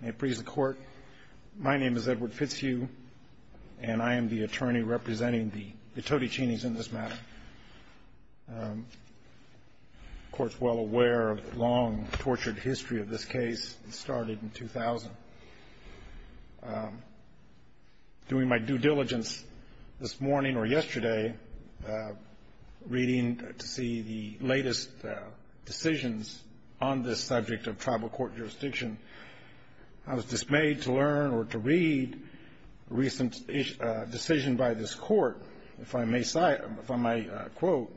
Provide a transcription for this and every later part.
May it please the court, my name is Edward Fitzhugh, and I am the attorney representing the Todechene's in this matter. The court's well aware of the long, tortured history of this case. It started in 2000. During my due diligence this morning or yesterday, reading to see the latest decisions on this subject of tribal court jurisdiction, I was dismayed to learn or to read a recent decision by this court, if I may quote,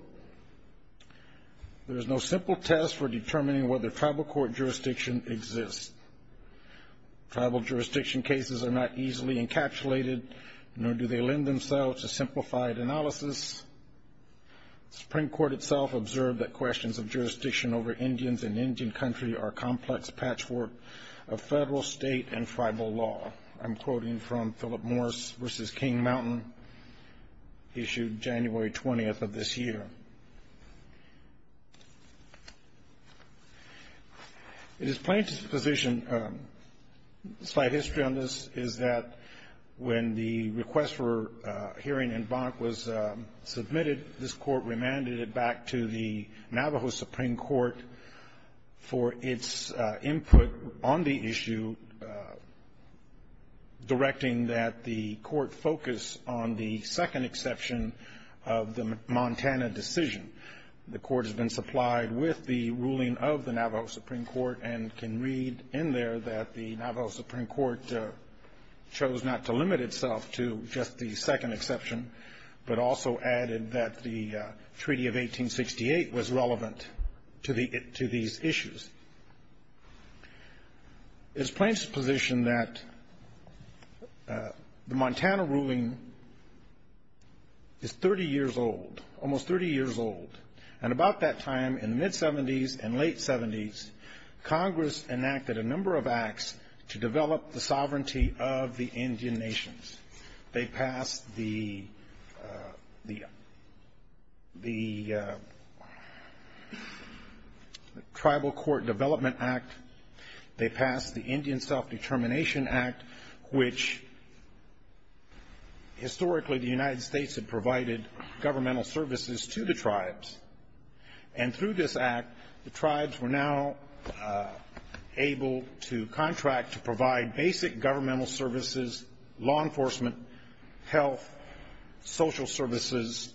there is no simple test for determining whether tribal court jurisdiction exists. Tribal jurisdiction cases are not easily encapsulated, nor do they lend themselves to simplified analysis. The Supreme Court itself observed that questions of jurisdiction over Indians in Indian country are complex patchwork of federal, state, and tribal law. I'm quoting from Philip Morse v. King Mountain, issued January 20th of this year. It is plain disposition, slight history on this, is that when the request for hearing in Bonk was submitted, this court remanded it back to the Navajo Supreme Court for its input on the issue, directing that the court focus on the second exception of the Montana decision. The court has been supplied with the ruling of the Navajo Supreme Court and can read in there that the Navajo Supreme Court chose not to limit itself to just the second exception, but also added that the Treaty of 1868 was relevant to these issues. It is plain disposition that the Montana ruling is 30 years old, almost 30 years old, and about that time in the mid-'70s and late-'70s, Congress enacted a number of acts to develop the sovereignty of the Indian nations. They passed the Tribal Court Development Act. They passed the Indian Self-Determination Act, which historically the United States had provided governmental services to the tribes. And through this act, the tribes were now able to contract to provide basic governmental services, law enforcement, health, social services,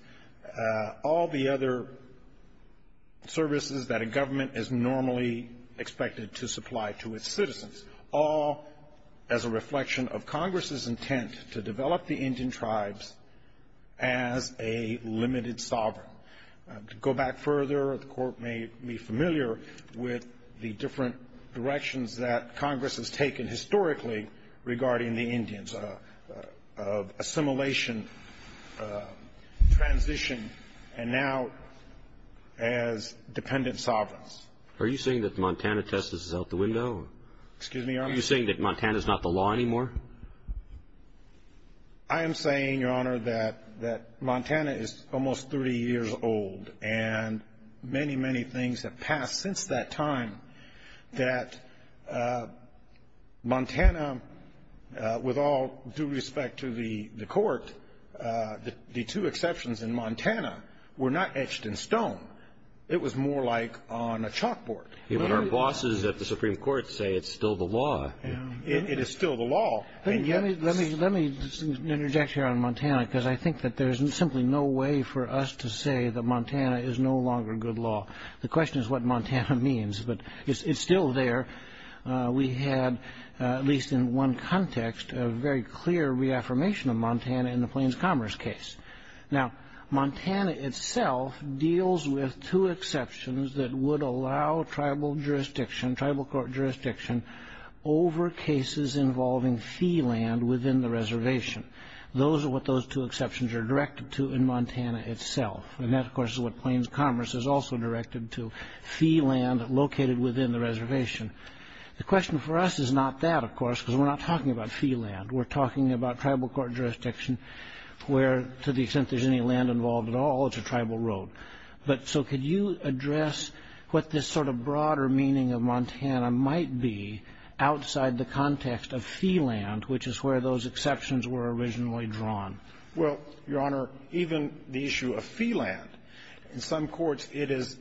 all the other services that a government is normally expected to supply to its citizens, all as a reflection of Congress's intent to develop the Indian tribes as a limited sovereign. To go back further, the court may be familiar with the different directions that Congress has taken historically regarding the Indians, of assimilation, transition, and now as dependent sovereigns. Are you saying that the Montana test is out the window? Excuse me, Your Honor? Are you saying that Montana is not the law anymore? I am saying, Your Honor, that Montana is almost 30 years old, and many, many things have passed since that time, that Montana, with all due respect to the court, the two exceptions in Montana were not etched in stone. It was more like on a chalkboard. Our bosses at the Supreme Court say it's still the law. It is still the law. Let me interject here on Montana, because I think that there's simply no way for us to say that Montana is no longer good law. The question is what Montana means, but it's still there. We had, at least in one context, a very clear reaffirmation of Montana in the Plains Commerce case. Now, Montana itself deals with two exceptions that would allow tribal jurisdiction, tribal court jurisdiction, over cases involving sea land within the reservation. Those are what those two exceptions are directed to in Montana itself. And that, of course, is what Plains Commerce is also directed to, sea land located within the reservation. The question for us is not that, of course, because we're not talking about sea land. We're talking about tribal court jurisdiction where, to the extent there's any land involved at all, it's a tribal road. But so could you address what this sort of broader meaning of Montana might be outside the context of sea land, which is where those exceptions were originally drawn? Well, Your Honor, even the issue of sea land, in some courts it is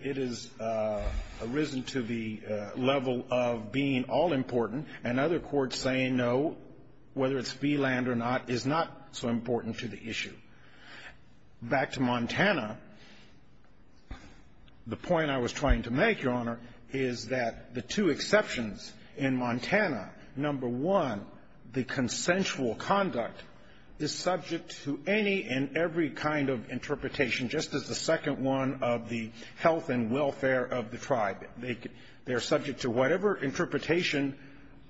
arisen to the level of being all-important, and other courts saying no, whether it's sea land or not, is not so important to the issue. Back to Montana, the point I was trying to make, Your Honor, is that the two exceptions in Montana, number one, the consensual conduct is subject to any and every kind of interpretation, just as the second one of the health and welfare of the tribe. They're subject to whatever interpretation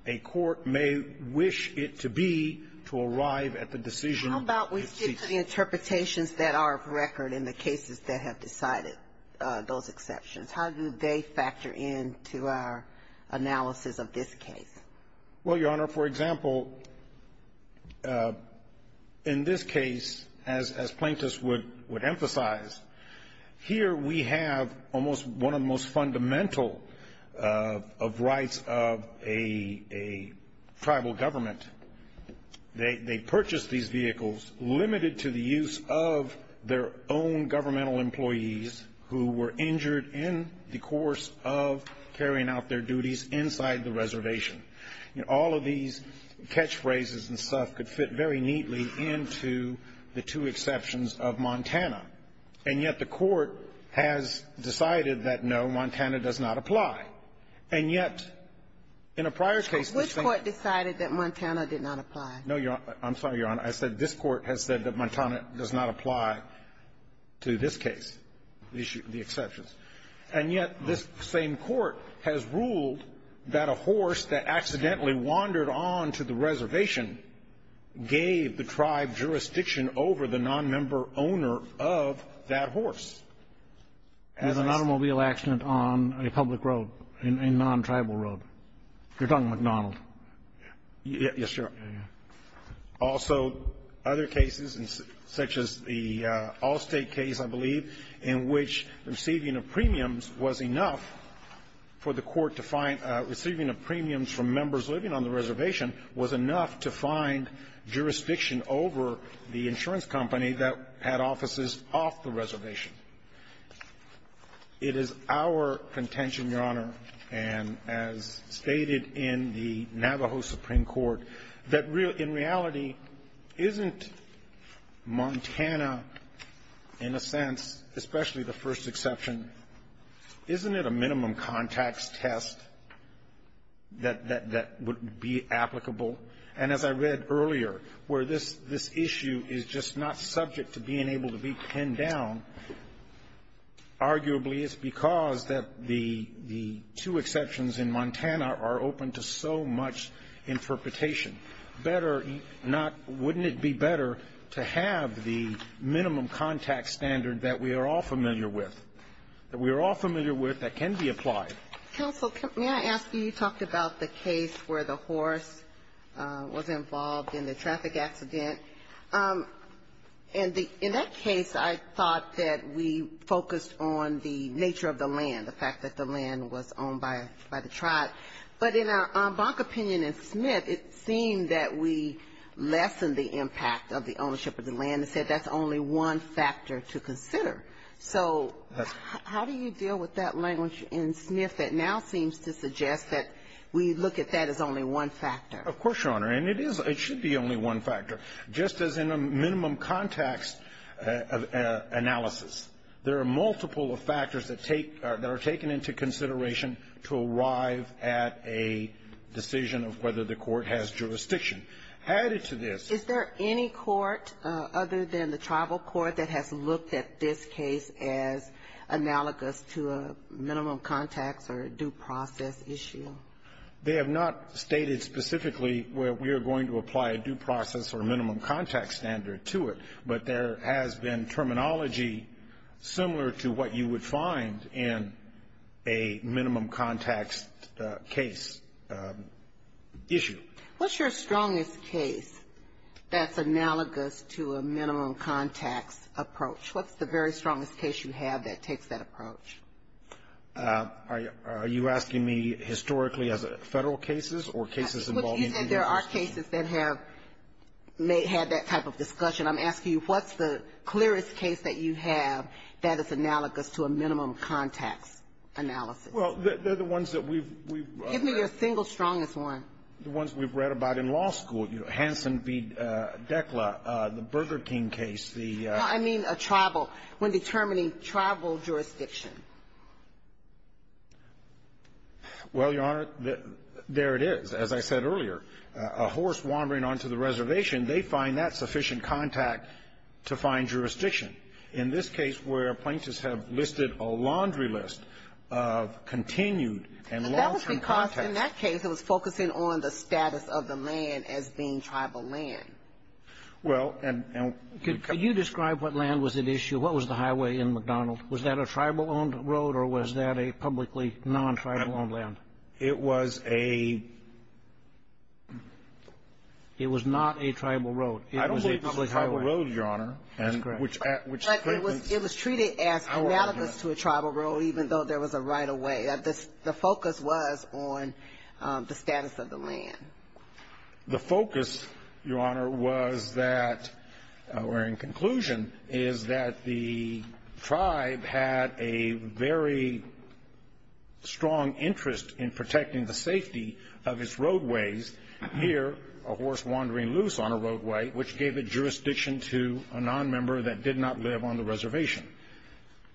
a court may wish it to be to arrive at the decision it seeks. How about we stick to the interpretations that are of record in the cases that have decided those exceptions? How do they factor into our analysis of this case? Well, Your Honor, for example, in this case, as plaintiffs would emphasize, here we have almost one of the most fundamental of rights of a tribal government. They purchased these vehicles limited to the use of their own governmental employees who were injured in the course of carrying out their duties inside the reservation. All of these catchphrases and stuff could fit very neatly into the two exceptions of Montana. And yet the court has decided that, no, Montana does not apply. And yet in a prior case the same court decided that Montana did not apply. No, Your Honor. I'm sorry, Your Honor. I said this court has said that Montana does not apply to this case, the exceptions. And yet this same court has ruled that a horse that accidentally wandered on to the reservation gave the tribe jurisdiction over the nonmember owner of that horse. As an automobile accident on a public road, a nontribal road. You're talking McDonald. Yes, Your Honor. Also, other cases such as the Allstate case, I believe, in which receiving of premiums was enough for the court to find – receiving of premiums from members living on the It is our contention, Your Honor, and as stated in the Navajo Supreme Court, that in reality isn't Montana, in a sense, especially the first exception, isn't it a minimum contacts test that would be applicable? And as I read earlier, where this issue is just not subject to being able to be pinned down, arguably it's because the two exceptions in Montana are open to so much interpretation. Better not – wouldn't it be better to have the minimum contacts standard that we are all familiar with, that we are all familiar with, that can be applied? Counsel, may I ask you – you talked about the case where the horse was involved in the traffic accident. And in that case, I thought that we focused on the nature of the land, the fact that the land was owned by the tribe. But in our bonk opinion in Smith, it seemed that we lessened the impact of the ownership of the land So how do you deal with that language in Smith that now seems to suggest that we look at that as only one factor? Of course, Your Honor. And it is – it should be only one factor. Just as in a minimum contacts analysis, there are multiple factors that take – that are taken into consideration to arrive at a decision of whether the court has jurisdiction. Added to this – Is there any court other than the tribal court that has looked at this case as analogous to a minimum contacts or due process issue? They have not stated specifically where we are going to apply a due process or minimum contacts standard to it. But there has been terminology similar to what you would find in a minimum contacts case issue. What's your strongest case that's analogous to a minimum contacts approach? What's the very strongest case you have that takes that approach? Are you asking me historically as a Federal cases or cases involving the University? You said there are cases that have had that type of discussion. I'm asking you what's the clearest case that you have that is analogous to a minimum contacts analysis? Well, they're the ones that we've – Give me your single strongest one. The ones we've read about in law school. Hansen v. Dekla, the Burger King case, the – I mean a tribal – when determining tribal jurisdiction. Well, Your Honor, there it is. As I said earlier, a horse wandering onto the reservation, they find that sufficient contact to find jurisdiction. In this case where plaintiffs have listed a laundry list of continued and long-term contacts – Based on the status of the land as being tribal land. Well, and – Could you describe what land was at issue? What was the highway in McDonald? Was that a tribal-owned road or was that a publicly non-tribal-owned land? It was a – It was not a tribal road. I don't believe it was a tribal road, Your Honor. That's correct. It was treated as analogous to a tribal road even though there was a right-of-way. The focus was on the status of the land. The focus, Your Honor, was that – or in conclusion, is that the tribe had a very strong interest in protecting the safety of its roadways. Here, a horse wandering loose on a roadway, which gave it jurisdiction to a nonmember that did not live on the reservation.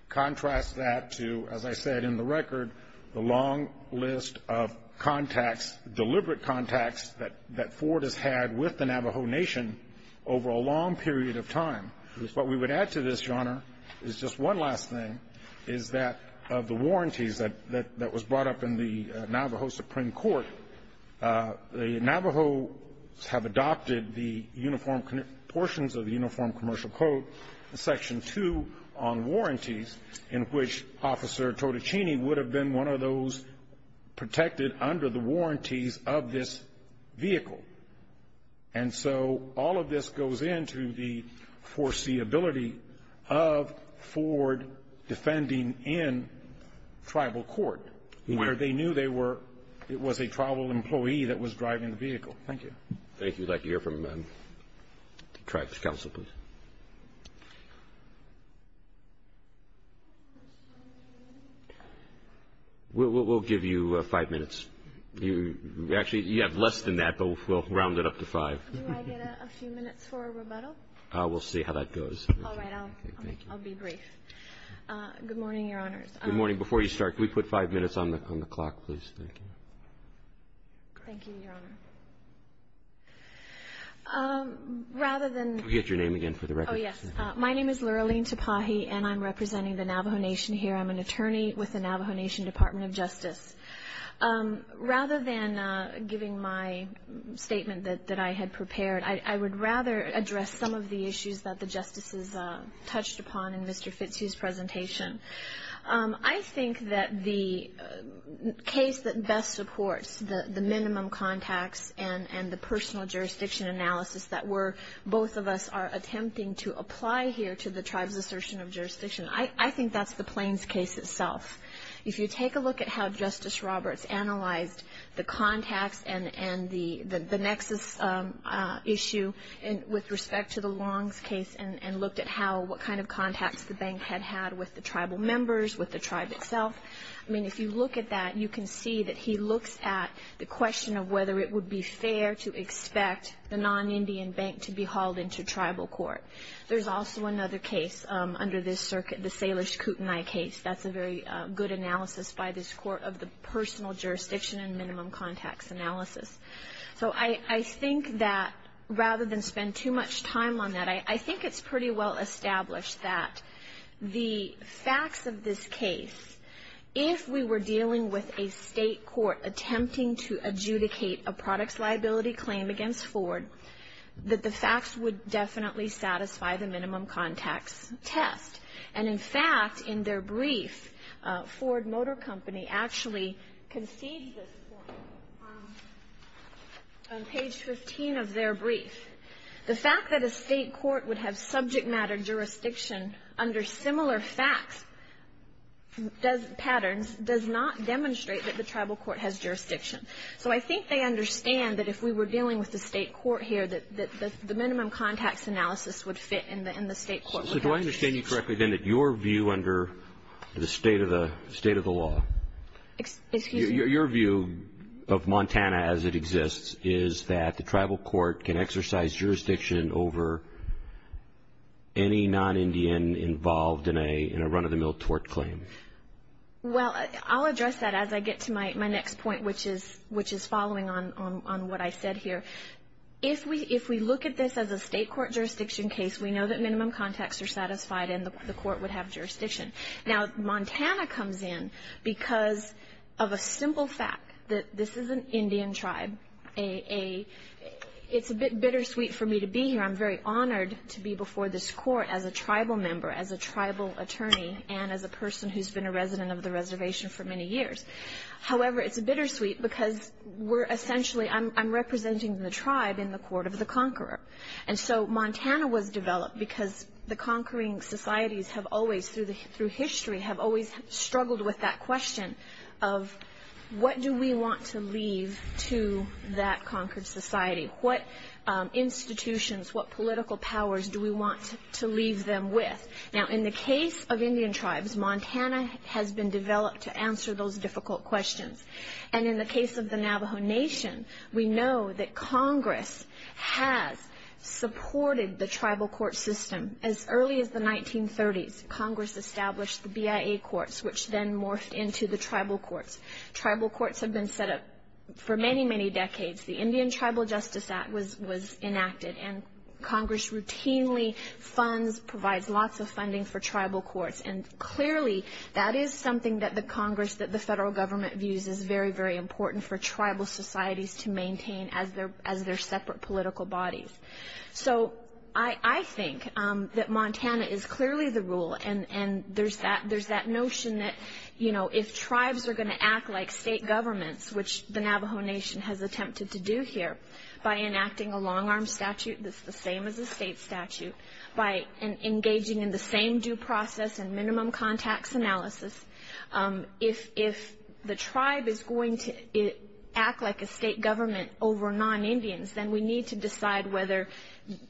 Contrast that to, as I said in the record, the long list of contacts – deliberate contacts that Ford has had with the Navajo Nation over a long period of time. What we would add to this, Your Honor, is just one last thing, is that of the warranties that was brought up in the Navajo Supreme Court, the Navajos have adopted the uniform – portions of the Uniform Commercial Code, Section 2, on warranties in which Officer Totichini would have been one of those protected under the warranties of this vehicle. And so all of this goes into the foreseeability of Ford defending in tribal court, where they knew they were – it was a tribal employee that was driving the vehicle. Thank you. Thank you. I'd like to hear from the tribe's counsel, please. We'll give you five minutes. Actually, you have less than that, but we'll round it up to five. Do I get a few minutes for a rebuttal? We'll see how that goes. All right. I'll be brief. Good morning, Your Honors. Good morning. Before you start, could we put five minutes on the clock, please? Thank you. Thank you, Your Honor. Rather than – Could we get your name again for the record? Oh, yes. My name is Luralene Tapahi, and I'm representing the Navajo Nation here. I'm an attorney with the Navajo Nation Department of Justice. Rather than giving my statement that I had prepared, I would rather address some of the issues that the Justices touched upon in Mr. Fitzhugh's presentation. I think that the case that best supports the minimum contacts and the personal jurisdiction analysis that both of us are attempting to apply here to the tribe's assertion of jurisdiction, I think that's the Plains case itself. If you take a look at how Justice Roberts analyzed the contacts and the nexus issue with respect to the Longs case and looked at what kind of contacts the bank had had with the tribal members, with the tribe itself, I mean, if you look at that, you can see that he looks at the question of whether it would be fair to expect the non-Indian bank to be hauled into tribal court. There's also another case under this circuit, the Salish Kootenai case. That's a very good analysis by this Court of the personal jurisdiction and minimum contacts analysis. So I think that rather than spend too much time on that, I think it's pretty well established that the facts of this case, if we were dealing with a state court attempting to adjudicate a products liability claim against Ford, that the facts would definitely satisfy the minimum contacts test. And, in fact, in their brief, Ford Motor Company actually concedes this point on page 15 of their brief. The fact that a state court would have subject matter jurisdiction under similar facts, does patterns, does not demonstrate that the tribal court has jurisdiction. So I think they understand that if we were dealing with the state court here, that the minimum contacts analysis would fit in the state court. Also, do I understand you correctly, then, that your view under the state of the law, your view of Montana as it exists is that the tribal court can exercise jurisdiction over any non-Indian involved in a run-of-the-mill tort claim? Well, I'll address that as I get to my next point, which is following on what I said here. If we look at this as a state court jurisdiction case, we know that minimum contacts are satisfied and the court would have jurisdiction. Now, Montana comes in because of a simple fact, that this is an Indian tribe. It's a bit bittersweet for me to be here. I'm very honored to be before this court as a tribal member, as a tribal attorney, and as a person who's been a resident of the reservation for many years. However, it's bittersweet because we're essentially, I'm representing the tribe in the court of the conqueror. And so Montana was developed because the conquering societies have always, through history, have always struggled with that question of, what do we want to leave to that conquered society? What institutions, what political powers do we want to leave them with? Now, in the case of Indian tribes, Montana has been developed to answer those difficult questions. And in the case of the Navajo Nation, we know that Congress has supported the tribal court system. As early as the 1930s, Congress established the BIA courts, which then morphed into the tribal courts. Tribal courts have been set up for many, many decades. The Indian Tribal Justice Act was enacted, and Congress routinely funds, provides lots of funding for tribal courts. And clearly, that is something that the Congress, that the federal government views as very, very important for tribal societies to maintain as their separate political bodies. So I think that Montana is clearly the rule. And there's that notion that, you know, if tribes are going to act like state governments, which the Navajo Nation has attempted to do here by enacting a long-arm statute that's the same as a state statute, by engaging in the same due process and minimum contacts analysis, if the tribe is going to act like a state government over non-Indians, then we need to decide whether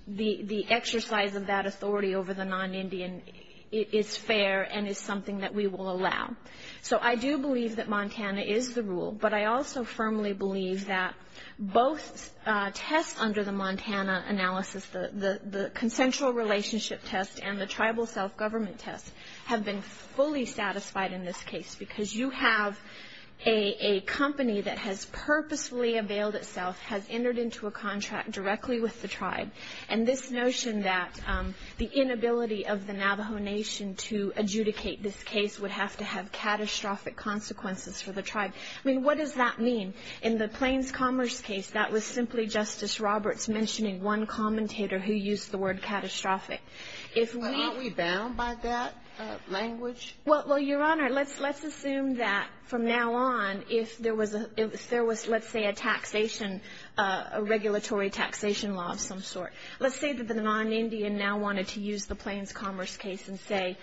the exercise of that authority over the non-Indian is fair and is something that we will allow. So I do believe that Montana is the rule, but I also firmly believe that both tests under the Montana analysis, the consensual relationship test and the tribal self-government test, have been fully satisfied in this case because you have a company that has purposefully availed itself, has entered into a contract directly with the tribe, and this notion that the inability of the Navajo Nation to adjudicate this case would have to have catastrophic consequences for the tribe. I mean, what does that mean? In the Plains Commerce case, that was simply Justice Roberts mentioning one commentator who used the word catastrophic. If we... But aren't we bound by that language? Well, Your Honor, let's assume that from now on, if there was, let's say, a taxation, a regulatory taxation law of some sort, let's say that the non-Indian now wanted to use the Plains Commerce case and say,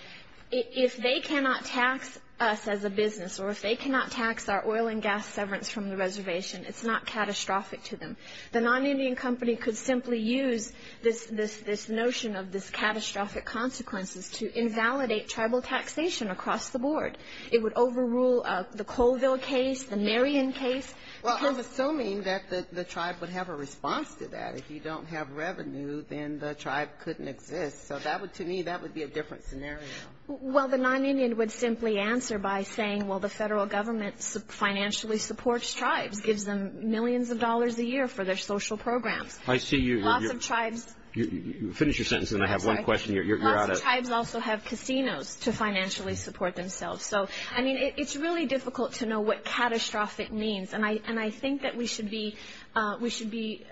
if they cannot tax us as a business or if they cannot tax our oil and gas severance from the reservation, it's not catastrophic to them. The non-Indian company could simply use this notion of this catastrophic consequences to invalidate tribal taxation across the board. It would overrule the Colville case, the Marion case. Well, I'm assuming that the tribe would have a response to that. If you don't have revenue, then the tribe couldn't exist. So to me, that would be a different scenario. Well, the non-Indian would simply answer by saying, well, the federal government financially supports tribes, gives them millions of dollars a year for their social programs. I see you. Lots of tribes... Finish your sentence, and then I have one question. You're out of... Lots of tribes also have casinos to financially support themselves. So, I mean, it's really difficult to know what catastrophic means. And I think that we should be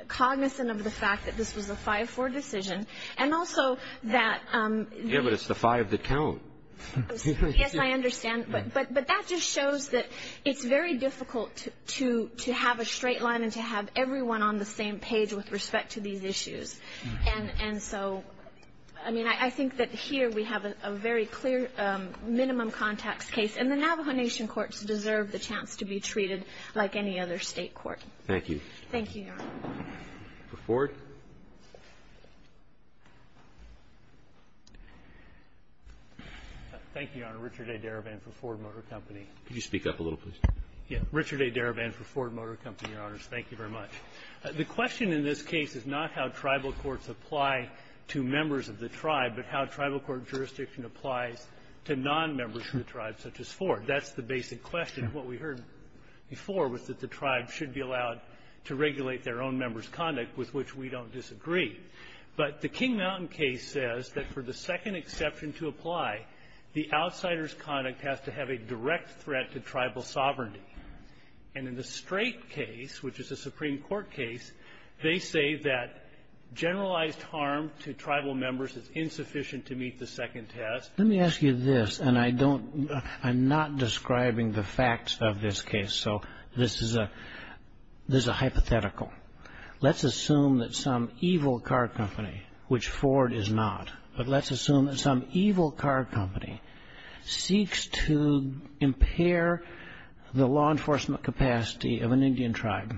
cognizant of the fact that this was a 5-4 decision. And also that... Yeah, but it's the five that count. Yes, I understand. But that just shows that it's very difficult to have a straight line and to have everyone on the same page with respect to these issues. And so, I mean, I think that here we have a very clear minimum contacts case. And the Navajo Nation courts deserve the chance to be treated like any other state court. Thank you. Thank you, Your Honor. For Ford? Thank you, Your Honor. Richard A. Darabin for Ford Motor Company. Could you speak up a little, please? Yeah. Richard A. Darabin for Ford Motor Company, Your Honors. Thank you very much. The question in this case is not how tribal courts apply to members of the tribe, but how tribal court jurisdiction applies to nonmembers of the tribe, such as Ford. That's the basic question. What we heard before was that the tribe should be allowed to regulate their own members' conduct, with which we don't disagree. But the King Mountain case says that for the second exception to apply, the outsider's conduct has to have a direct threat to tribal sovereignty. And in the Strait case, which is a Supreme Court case, they say that generalized harm to tribal members is insufficient to meet the second test. Let me ask you this, and I'm not describing the facts of this case, so this is a hypothetical. Let's assume that some evil car company, which Ford is not, but let's assume that some evil car company seeks to impair the law enforcement capacity of an Indian tribe.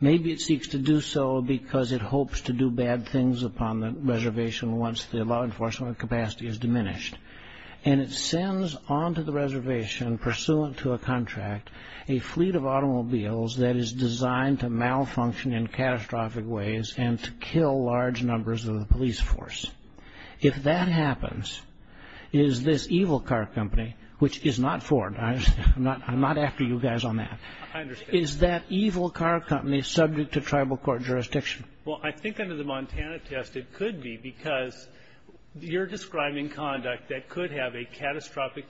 Maybe it seeks to do so because it hopes to do bad things upon the reservation once the law enforcement capacity is diminished. And it sends onto the reservation, pursuant to a contract, a fleet of automobiles that is designed to malfunction in catastrophic ways and to kill large numbers of the police force. If that happens, is this evil car company, which is not Ford, I'm not after you guys on that, is that evil car company subject to tribal court jurisdiction? Well, I think under the Montana test it could be because you're describing conduct that could have a catastrophic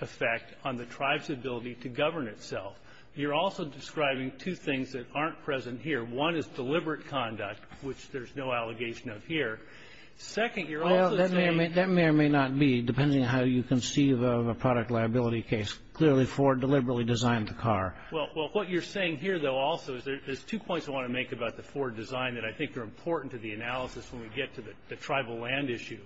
effect on the tribe's ability to govern itself. You're also describing two things that aren't present here. One is deliberate conduct, which there's no allegation of here. Second, you're also saying ---- Well, that may or may not be, depending on how you conceive of a product liability case, clearly Ford deliberately designed the car. Well, what you're saying here, though, also is there's two points I want to make about the Ford design that I think are important to the analysis when we get to the tribal land issue.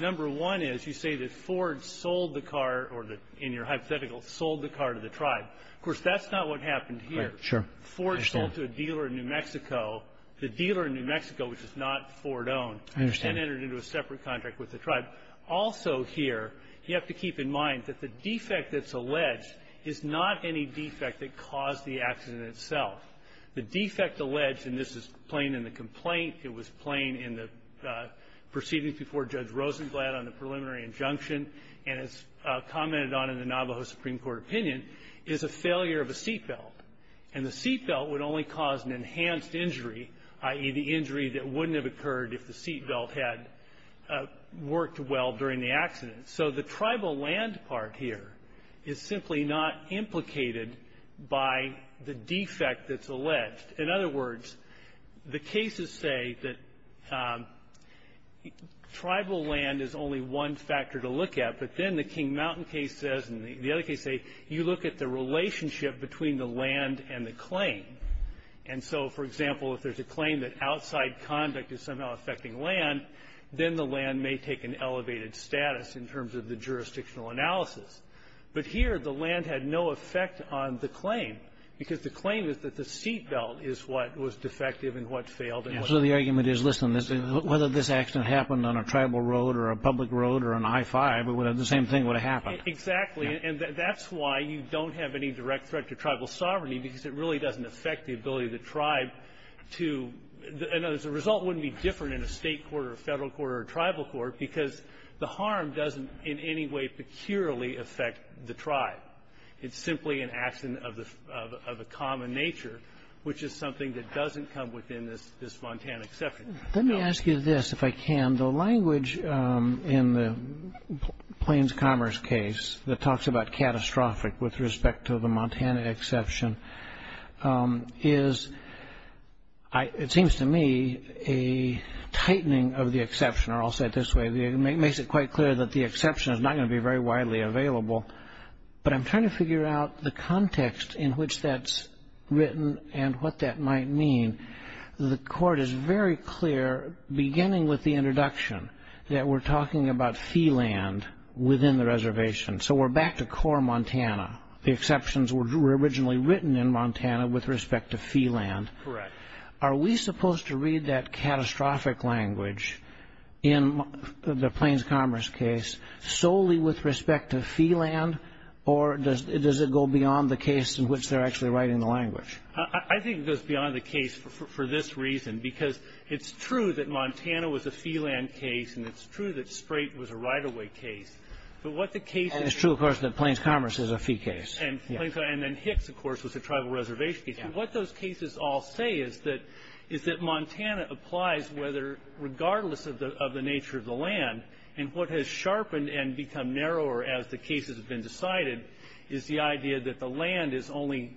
Number one is you say that Ford sold the car or, in your hypothetical, sold the car to the tribe. Of course, that's not what happened here. Ford sold to a dealer in New Mexico. The dealer in New Mexico, which is not Ford-owned, then entered into a separate contract with the tribe. Also here, you have to keep in mind that the defect that's alleged is not any defect that caused the accident itself. The defect alleged, and this is plain in the complaint, it was plain in the proceedings before Judge Rosenglad on the preliminary injunction, and it's commented on in the Navajo Supreme Court opinion, is a failure of a seat belt. And the seat belt would only cause an enhanced injury, i.e., the injury that wouldn't have occurred if the seat belt had worked well during the accident. So the tribal land part here is simply not implicated by the defect that's alleged. In other words, the cases say that tribal land is only one factor to look at, but then the King Mountain case says, and the other case say, you look at the relationship between the land and the claim. And so, for example, if there's a claim that outside conduct is somehow affecting land, then the land may take an elevated status in terms of the jurisdictional analysis. But here, the land had no effect on the claim, because the claim is that the seat belt is what was defective and what failed. And so the argument is, listen, whether this accident happened on a tribal road or a public road or an I-5, the same thing would have happened. Exactly. And that's why you don't have any direct threat to tribal sovereignty, because it really doesn't affect the ability of the tribe to – and as a result wouldn't be different in a state court or a federal court or a tribal court, because the harm doesn't in any way peculiarly affect the tribe. It's simply an accident of a common nature, which is something that doesn't come within this Montana exception. Let me ask you this, if I can. The language in the Plains Commerce case that talks about catastrophic with respect to the Montana exception is, it seems to me, a tightening of the exception. I'll say it this way. It makes it quite clear that the exception is not going to be very widely available, but I'm trying to figure out the context in which that's written and what that might mean. The court is very clear, beginning with the introduction, that we're talking about fee land within the reservation. So we're back to core Montana. The exceptions were originally written in Montana with respect to fee land. Correct. Are we supposed to read that catastrophic language in the Plains Commerce case solely with respect to fee land, I think it goes beyond the case for this reason, because it's true that Montana was a fee land case, and it's true that Sprate was a right-of-way case. And it's true, of course, that Plains Commerce is a fee case. And then Hicks, of course, was a tribal reservation case. What those cases all say is that Montana applies regardless of the nature of the land, and what has sharpened and become narrower as the cases have been decided is the idea that the land is only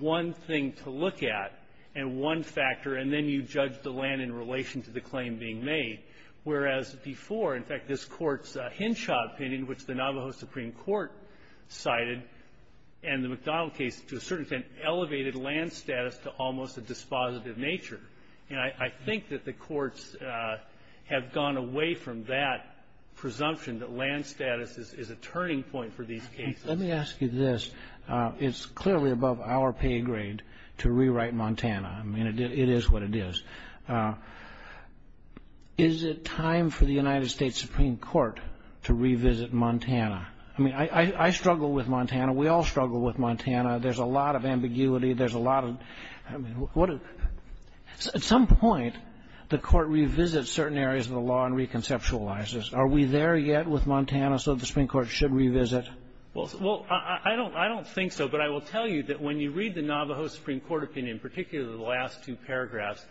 one thing to look at and one factor, and then you judge the land in relation to the claim being made. Whereas before, in fact, this Court's Hinshaw opinion, which the Navajo Supreme Court cited, and the McDonald case, to a certain extent, elevated land status to almost a dispositive nature. And I think that the courts have gone away from that presumption that land status is a turning point for these cases. Let me ask you this. It's clearly above our pay grade to rewrite Montana. I mean, it is what it is. Is it time for the United States Supreme Court to revisit Montana? I mean, I struggle with Montana. We all struggle with Montana. There's a lot of ambiguity. There's a lot of – I mean, at some point, the Court revisits certain areas of the law and reconceptualizes. Are we there yet with Montana so the Supreme Court should revisit? Well, I don't think so. But I will tell you that when you read the Navajo Supreme Court opinion, particularly the last two paragraphs,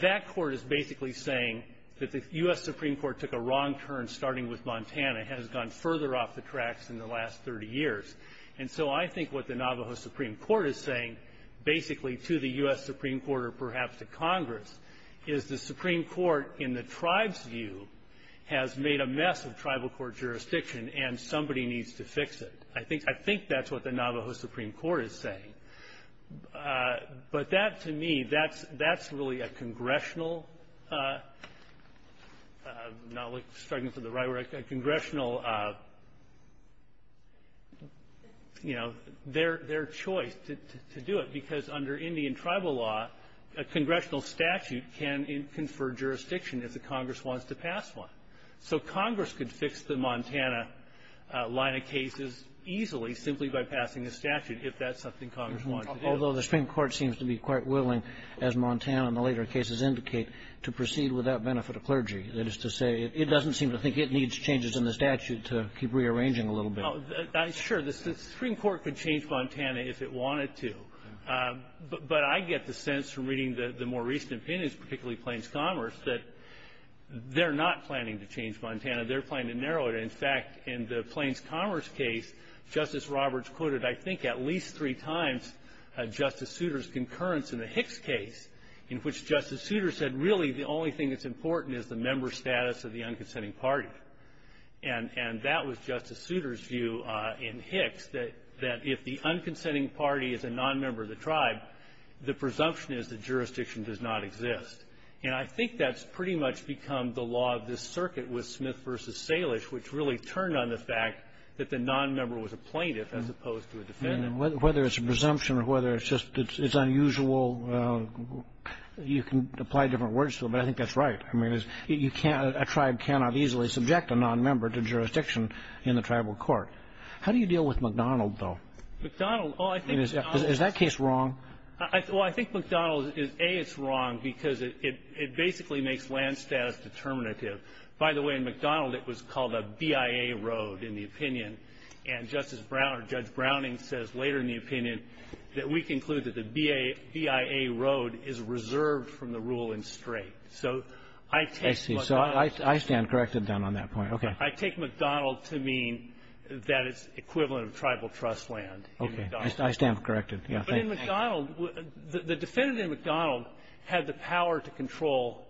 that Court is basically saying that the U.S. Supreme Court took a wrong turn starting with Montana. It has gone further off the tracks in the last 30 years. And so I think what the Navajo Supreme Court is saying, basically, to the U.S. Supreme Court or perhaps to Congress, is the Supreme Court, in the tribe's view, has made a mess of tribal court jurisdiction and somebody needs to fix it. I think that's what the Navajo Supreme Court is saying. But that, to me, that's really a congressional – I'm struggling for the right word – a congressional, you know, their choice to do it. Because under Indian tribal law, a congressional statute can confer jurisdiction if the Congress wants to pass one. So Congress could fix the Montana line of cases easily simply by passing a statute if that's something Congress wants to do. Although the Supreme Court seems to be quite willing, as Montana and the later cases indicate, to proceed without benefit of clergy. That is to say, it doesn't seem to think it needs changes in the statute to keep rearranging a little bit. Well, sure. The Supreme Court could change Montana if it wanted to. But I get the sense from reading the more recent opinions, particularly Plains Commerce, that they're not planning to change Montana. They're planning to narrow it. In fact, in the Plains Commerce case, Justice Roberts quoted, I think, at least three times Justice Souter's concurrence in the Hicks case, in which Justice Souter said, really, the only thing that's important is the member status of the unconsenting party. And that was Justice Souter's view in Hicks, that if the unconsenting party is a nonmember of the tribe, the presumption is that jurisdiction does not exist. And I think that's pretty much become the law of this circuit with Smith v. Salish, which really turned on the fact that the nonmember was a plaintiff as opposed to a defendant. And whether it's a presumption or whether it's just it's unusual, you can apply different words to it, but I think that's right. I mean, a tribe cannot easily subject a nonmember to jurisdiction in the tribal court. How do you deal with McDonald, though? McDonald? Is that case wrong? Well, I think McDonald, A, it's wrong because it basically makes land status determinative. By the way, in McDonald, it was called a BIA road in the opinion, and Justice Brown or Judge Browning says later in the opinion that we conclude that the BIA road is reserved from the rule in straight. So I take McDonald. I see. So I stand corrected then on that point. Okay. I take McDonald to mean that it's equivalent of tribal trust land in McDonald. Okay. I stand corrected. But in McDonald, the defendant in McDonald had the power to control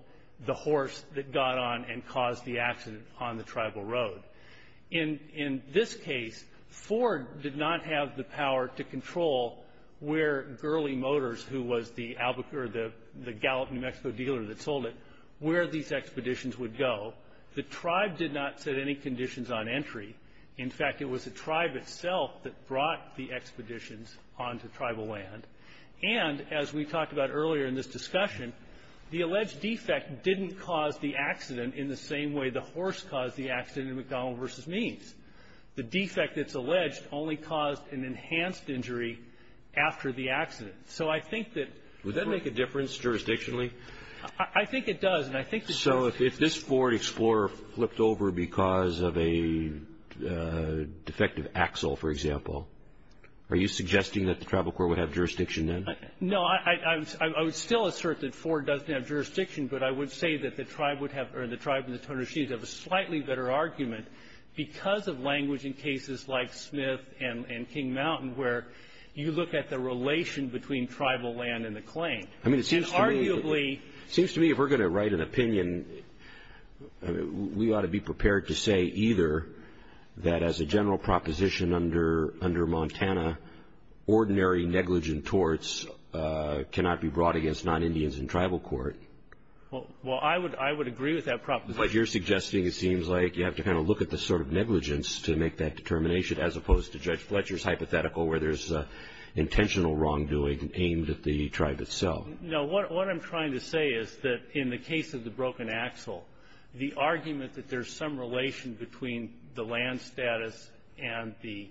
the horse that got on and caused the accident on the tribal road. In this case, Ford did not have the power to control where Gurley Motors, who was the Gallup New Mexico dealer that sold it, where these expeditions would go. The tribe did not set any conditions on entry. In fact, it was the tribe itself that brought the expeditions onto tribal land. And as we talked about earlier in this discussion, the alleged defect didn't cause the accident in the same way the horse caused the accident in McDonald v. Means. Would that make a difference jurisdictionally? I think it does, and I think it does. So if this Ford Explorer flipped over because of a defective axle, for example, are you suggesting that the tribal court would have jurisdiction then? No. I would still assert that Ford doesn't have jurisdiction, but I would say that the tribe would have or the tribe and the Tonishis have a slightly better argument because of language in cases like Smith and King Mountain where you look at the relation between tribal land and the claim. I mean, it seems to me if we're going to write an opinion, we ought to be prepared to say either that as a general proposition under Montana, ordinary negligent torts cannot be brought against non-Indians in tribal court. Well, I would agree with that proposition. But you're suggesting it seems like you have to kind of look at the sort of negligence to make that determination as opposed to Judge Fletcher's hypothetical where there's intentional wrongdoing aimed at the tribe itself. No, what I'm trying to say is that in the case of the broken axle, the argument that there's some relation between the land status and the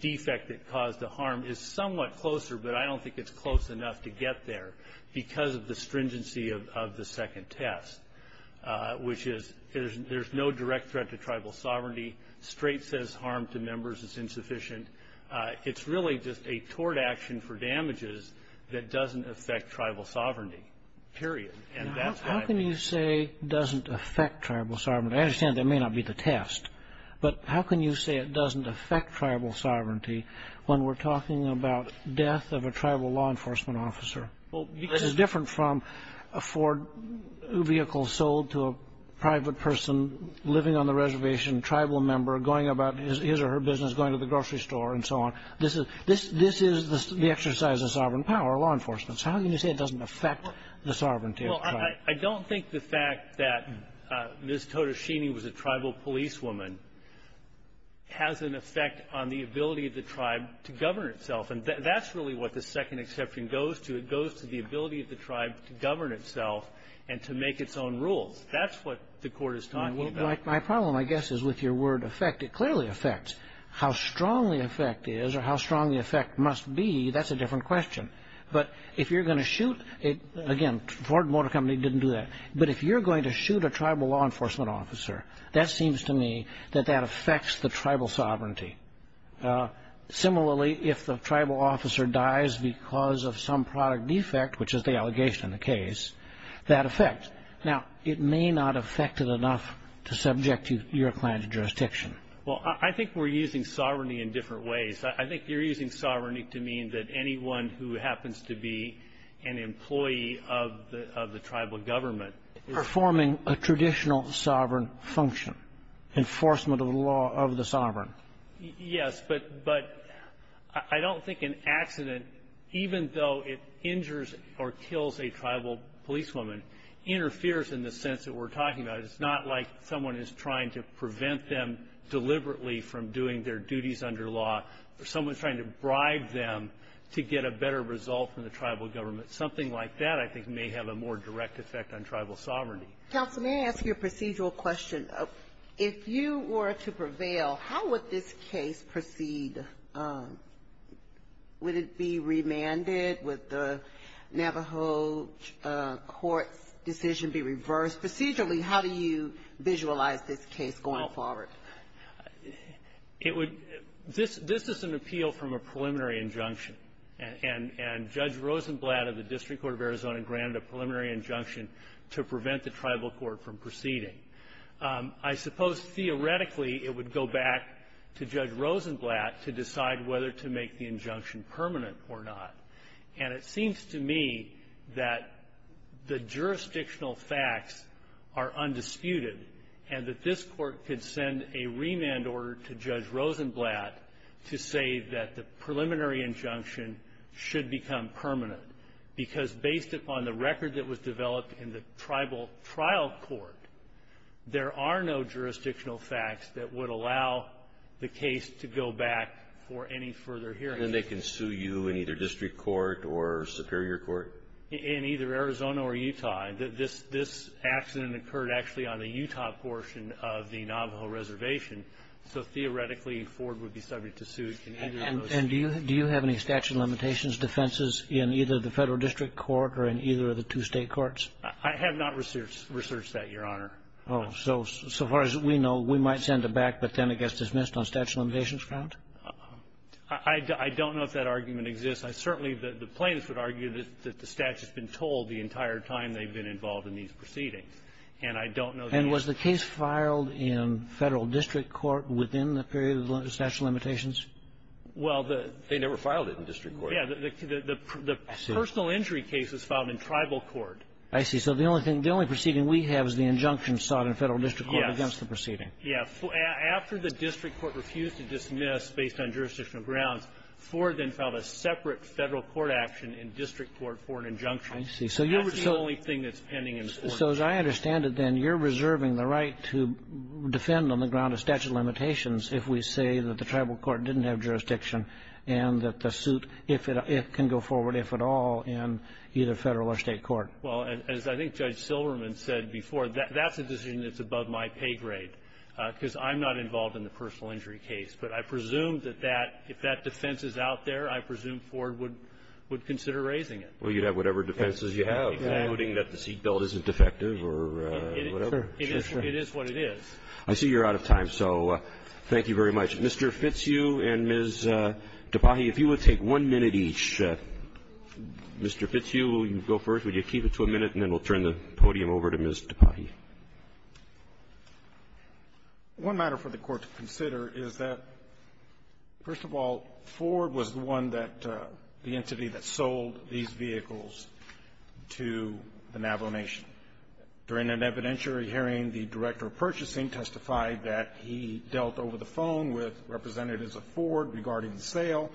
defect that caused the harm is somewhat closer, but I don't think it's close enough to get there because of the stringency of the second test, which is there's no direct threat to tribal sovereignty. Straight says harm to members is insufficient. It's really just a tort action for damages that doesn't affect tribal sovereignty, period. How can you say it doesn't affect tribal sovereignty? I understand that may not be the test, but how can you say it doesn't affect tribal sovereignty when we're talking about death of a tribal law enforcement officer? It's different from a Ford vehicle sold to a private person living on the reservation, tribal member going about his or her business, going to the grocery store, and so on. This is the exercise of sovereign power, law enforcement. So how can you say it doesn't affect the sovereignty of the tribe? Well, I don't think the fact that Ms. Totoshini was a tribal policewoman has an effect on the ability of the tribe to govern itself. And that's really what the second exception goes to. It goes to the ability of the tribe to govern itself and to make its own rules. That's what the court is talking about. My problem, I guess, is with your word affect. It clearly affects. How strongly affect is or how strongly affect must be, that's a different question. But if you're going to shoot, again, Ford Motor Company didn't do that. But if you're going to shoot a tribal law enforcement officer, that seems to me that that affects the tribal sovereignty. Similarly, if the tribal officer dies because of some product defect, which is the allegation in the case, that affects. Now, it may not affect it enough to subject your client to jurisdiction. Well, I think we're using sovereignty in different ways. I think you're using sovereignty to mean that anyone who happens to be an employee of the tribal government. Performing a traditional sovereign function. Enforcement of the law of the sovereign. Yes, but I don't think an accident, even though it injures or kills a tribal policewoman, interferes in the sense that we're talking about. It's not like someone is trying to prevent them deliberately from doing their duties under law or someone's trying to bribe them to get a better result from the tribal government. Something like that, I think, may have a more direct effect on tribal sovereignty. Counsel, may I ask you a procedural question? If you were to prevail, how would this case proceed? Would it be remanded? Would the Navajo court's decision be reversed? Procedurally, how do you visualize this case going forward? This is an appeal from a preliminary injunction. And Judge Rosenblatt of the District Court of Arizona granted a preliminary injunction to prevent the tribal court from proceeding. I suppose, theoretically, it would go back to Judge Rosenblatt to decide whether to make the injunction permanent or not. And it seems to me that the jurisdictional facts are undisputed, and that this Court could send a remand order to Judge Rosenblatt to say that the preliminary injunction should become permanent, because based upon the record that was developed in the tribal trial court, there are no jurisdictional facts that would allow the case to go back for any further hearing. And they can sue you in either district court or superior court? In either Arizona or Utah. This accident occurred actually on the Utah portion of the Navajo Reservation, so theoretically Ford would be subject to suit in either of those cases. And do you have any statute of limitations defenses in either the Federal District Court or in either of the two state courts? I have not researched that, Your Honor. Oh. So far as we know, we might send it back, but then it gets dismissed on statute of limitations grounds? I don't know if that argument exists. I certainly the plaintiffs would argue that the statute's been told the entire time they've been involved in these proceedings. And I don't know the answer. And was the case filed in Federal District Court within the period of statute of limitations? Well, they never filed it in district court. Yeah. The personal injury case was filed in tribal court. I see. So the only thing the only proceeding we have is the injunction sought in Federal District Court against the proceeding. Yeah. After the district court refused to dismiss based on jurisdictional grounds, Ford then filed a separate Federal court action in district court for an injunction. I see. That's the only thing that's pending in court. So as I understand it, then, you're reserving the right to defend on the ground of statute of limitations if we say that the tribal court didn't have jurisdiction and that the suit, if it can go forward, if at all, in either Federal or state court. Well, as I think Judge Silverman said before, that's a decision that's above my pay grade. Because I'm not involved in the personal injury case. But I presume that that, if that defense is out there, I presume Ford would consider raising it. Well, you'd have whatever defenses you have, including that the seat belt isn't defective or whatever. It is what it is. I see you're out of time. So thank you very much. Mr. Fitzhugh and Ms. Tapahi, if you would take one minute each. Mr. Fitzhugh, will you go first? Ms. Tapahi, would you keep it to a minute, and then we'll turn the podium over to Ms. Tapahi. One matter for the Court to consider is that, first of all, Ford was the one that the entity that sold these vehicles to the Navajo Nation. During an evidentiary hearing, the Director of Purchasing testified that he dealt over the phone with representatives of Ford regarding the sale.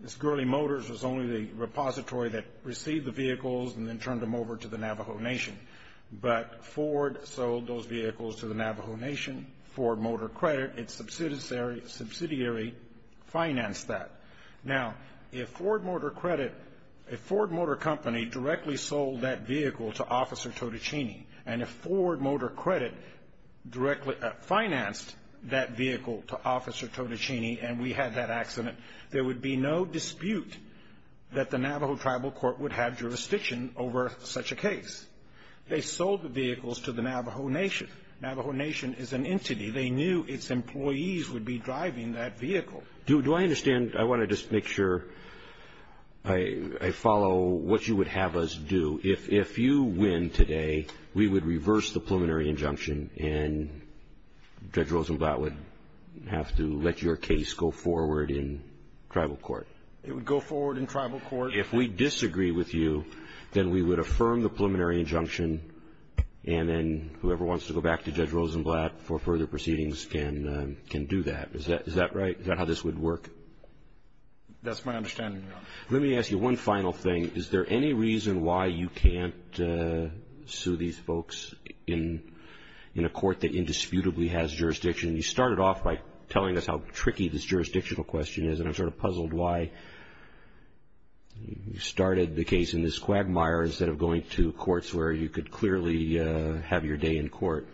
This Gurley Motors was only the repository that received the vehicles and then turned them over to the Navajo Nation. But Ford sold those vehicles to the Navajo Nation. Ford Motor Credit, its subsidiary, financed that. Now, if Ford Motor Credit, if Ford Motor Company directly sold that vehicle to Officer Totichini, and if Ford Motor Credit directly financed that vehicle to Officer Totichini and we had that accident, there would be no dispute that the Navajo Tribal Court would have jurisdiction over such a case. They sold the vehicles to the Navajo Nation. Navajo Nation is an entity. They knew its employees would be driving that vehicle. Do I understand? I want to just make sure I follow what you would have us do. If you win today, we would reverse the preliminary injunction, and Judge Rosenblatt would have to let your case go forward in tribal court. It would go forward in tribal court. If we disagree with you, then we would affirm the preliminary injunction, and then whoever wants to go back to Judge Rosenblatt for further proceedings can do that. Is that right? Is that how this would work? That's my understanding, Your Honor. Let me ask you one final thing. Is there any reason why you can't sue these folks in a court that indisputably has jurisdiction? You started off by telling us how tricky this jurisdictional question is, and I'm sort of puzzled why you started the case in this quagmire instead of going to courts where you could clearly have your day in court.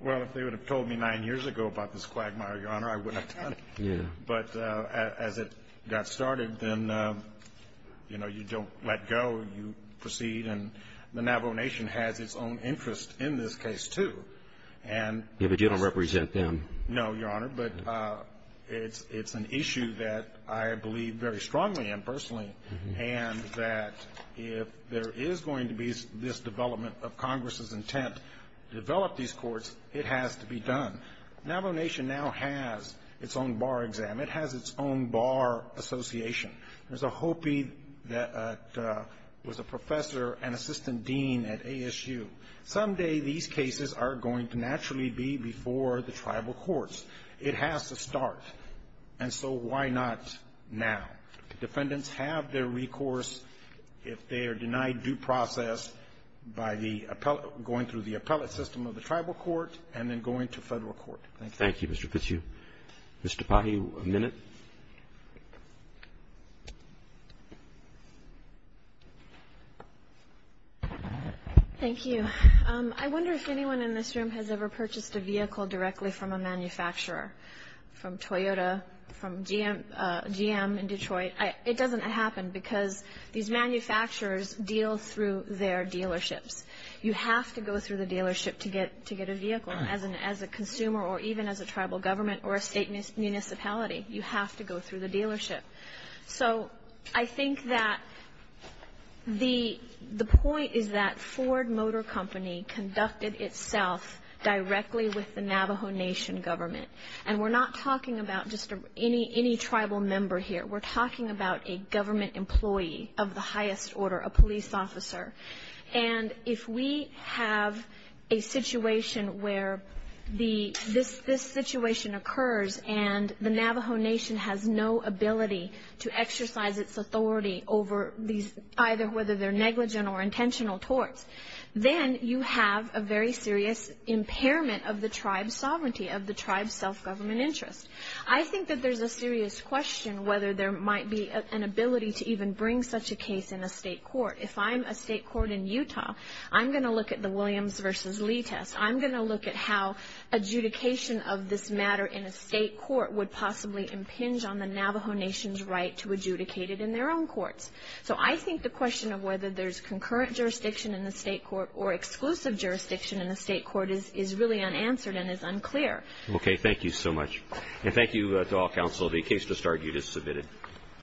Well, if they would have told me nine years ago about this quagmire, Your Honor, I wouldn't have done it. But as it got started, then, you know, you don't let go. You proceed, and the Navajo Nation has its own interest in this case, too. Yeah, but you don't represent them. No, Your Honor, but it's an issue that I believe very strongly in personally, and that if there is going to be this development of Congress's intent to develop these courts, it has to be done. Navajo Nation now has its own bar exam. It has its own bar association. There's a Hopi that was a professor and assistant dean at ASU. Someday these cases are going to naturally be before the tribal courts. It has to start, and so why not now? Defendants have their recourse if they are denied due process by going through the appellate system of the tribal court and then going to Federal court. Thank you. Thank you, Mr. Fitzhugh. Ms. Tapahi, a minute. Thank you. I wonder if anyone in this room has ever purchased a vehicle directly from a manufacturer, from Toyota, from GM in Detroit. It doesn't happen because these manufacturers deal through their dealerships. You have to go through the dealership to get a vehicle as a consumer or even as a tribal government or a state municipality. You have to go through the dealership. So I think that the point is that Ford Motor Company conducted itself directly with the Navajo Nation government, and we're not talking about just any tribal member here. We're talking about a government employee of the highest order, a police officer, and if we have a situation where this situation occurs and the Navajo Nation has no ability to exercise its authority over these, either whether they're negligent or intentional torts, then you have a very serious impairment of the tribe's sovereignty, of the tribe's self-government interest. I think that there's a serious question whether there might be an ability to even bring such a case in a state court. If I'm a state court in Utah, I'm going to look at the Williams v. Lee test. I'm going to look at how adjudication of this matter in a state court would possibly impinge on the Navajo Nation's right to adjudicate it in their own courts. So I think the question of whether there's concurrent jurisdiction in the state court or exclusive jurisdiction in the state court is really unanswered and is unclear. Okay. Thank you so much. And thank you to all counsel. The case to start, you just submitted.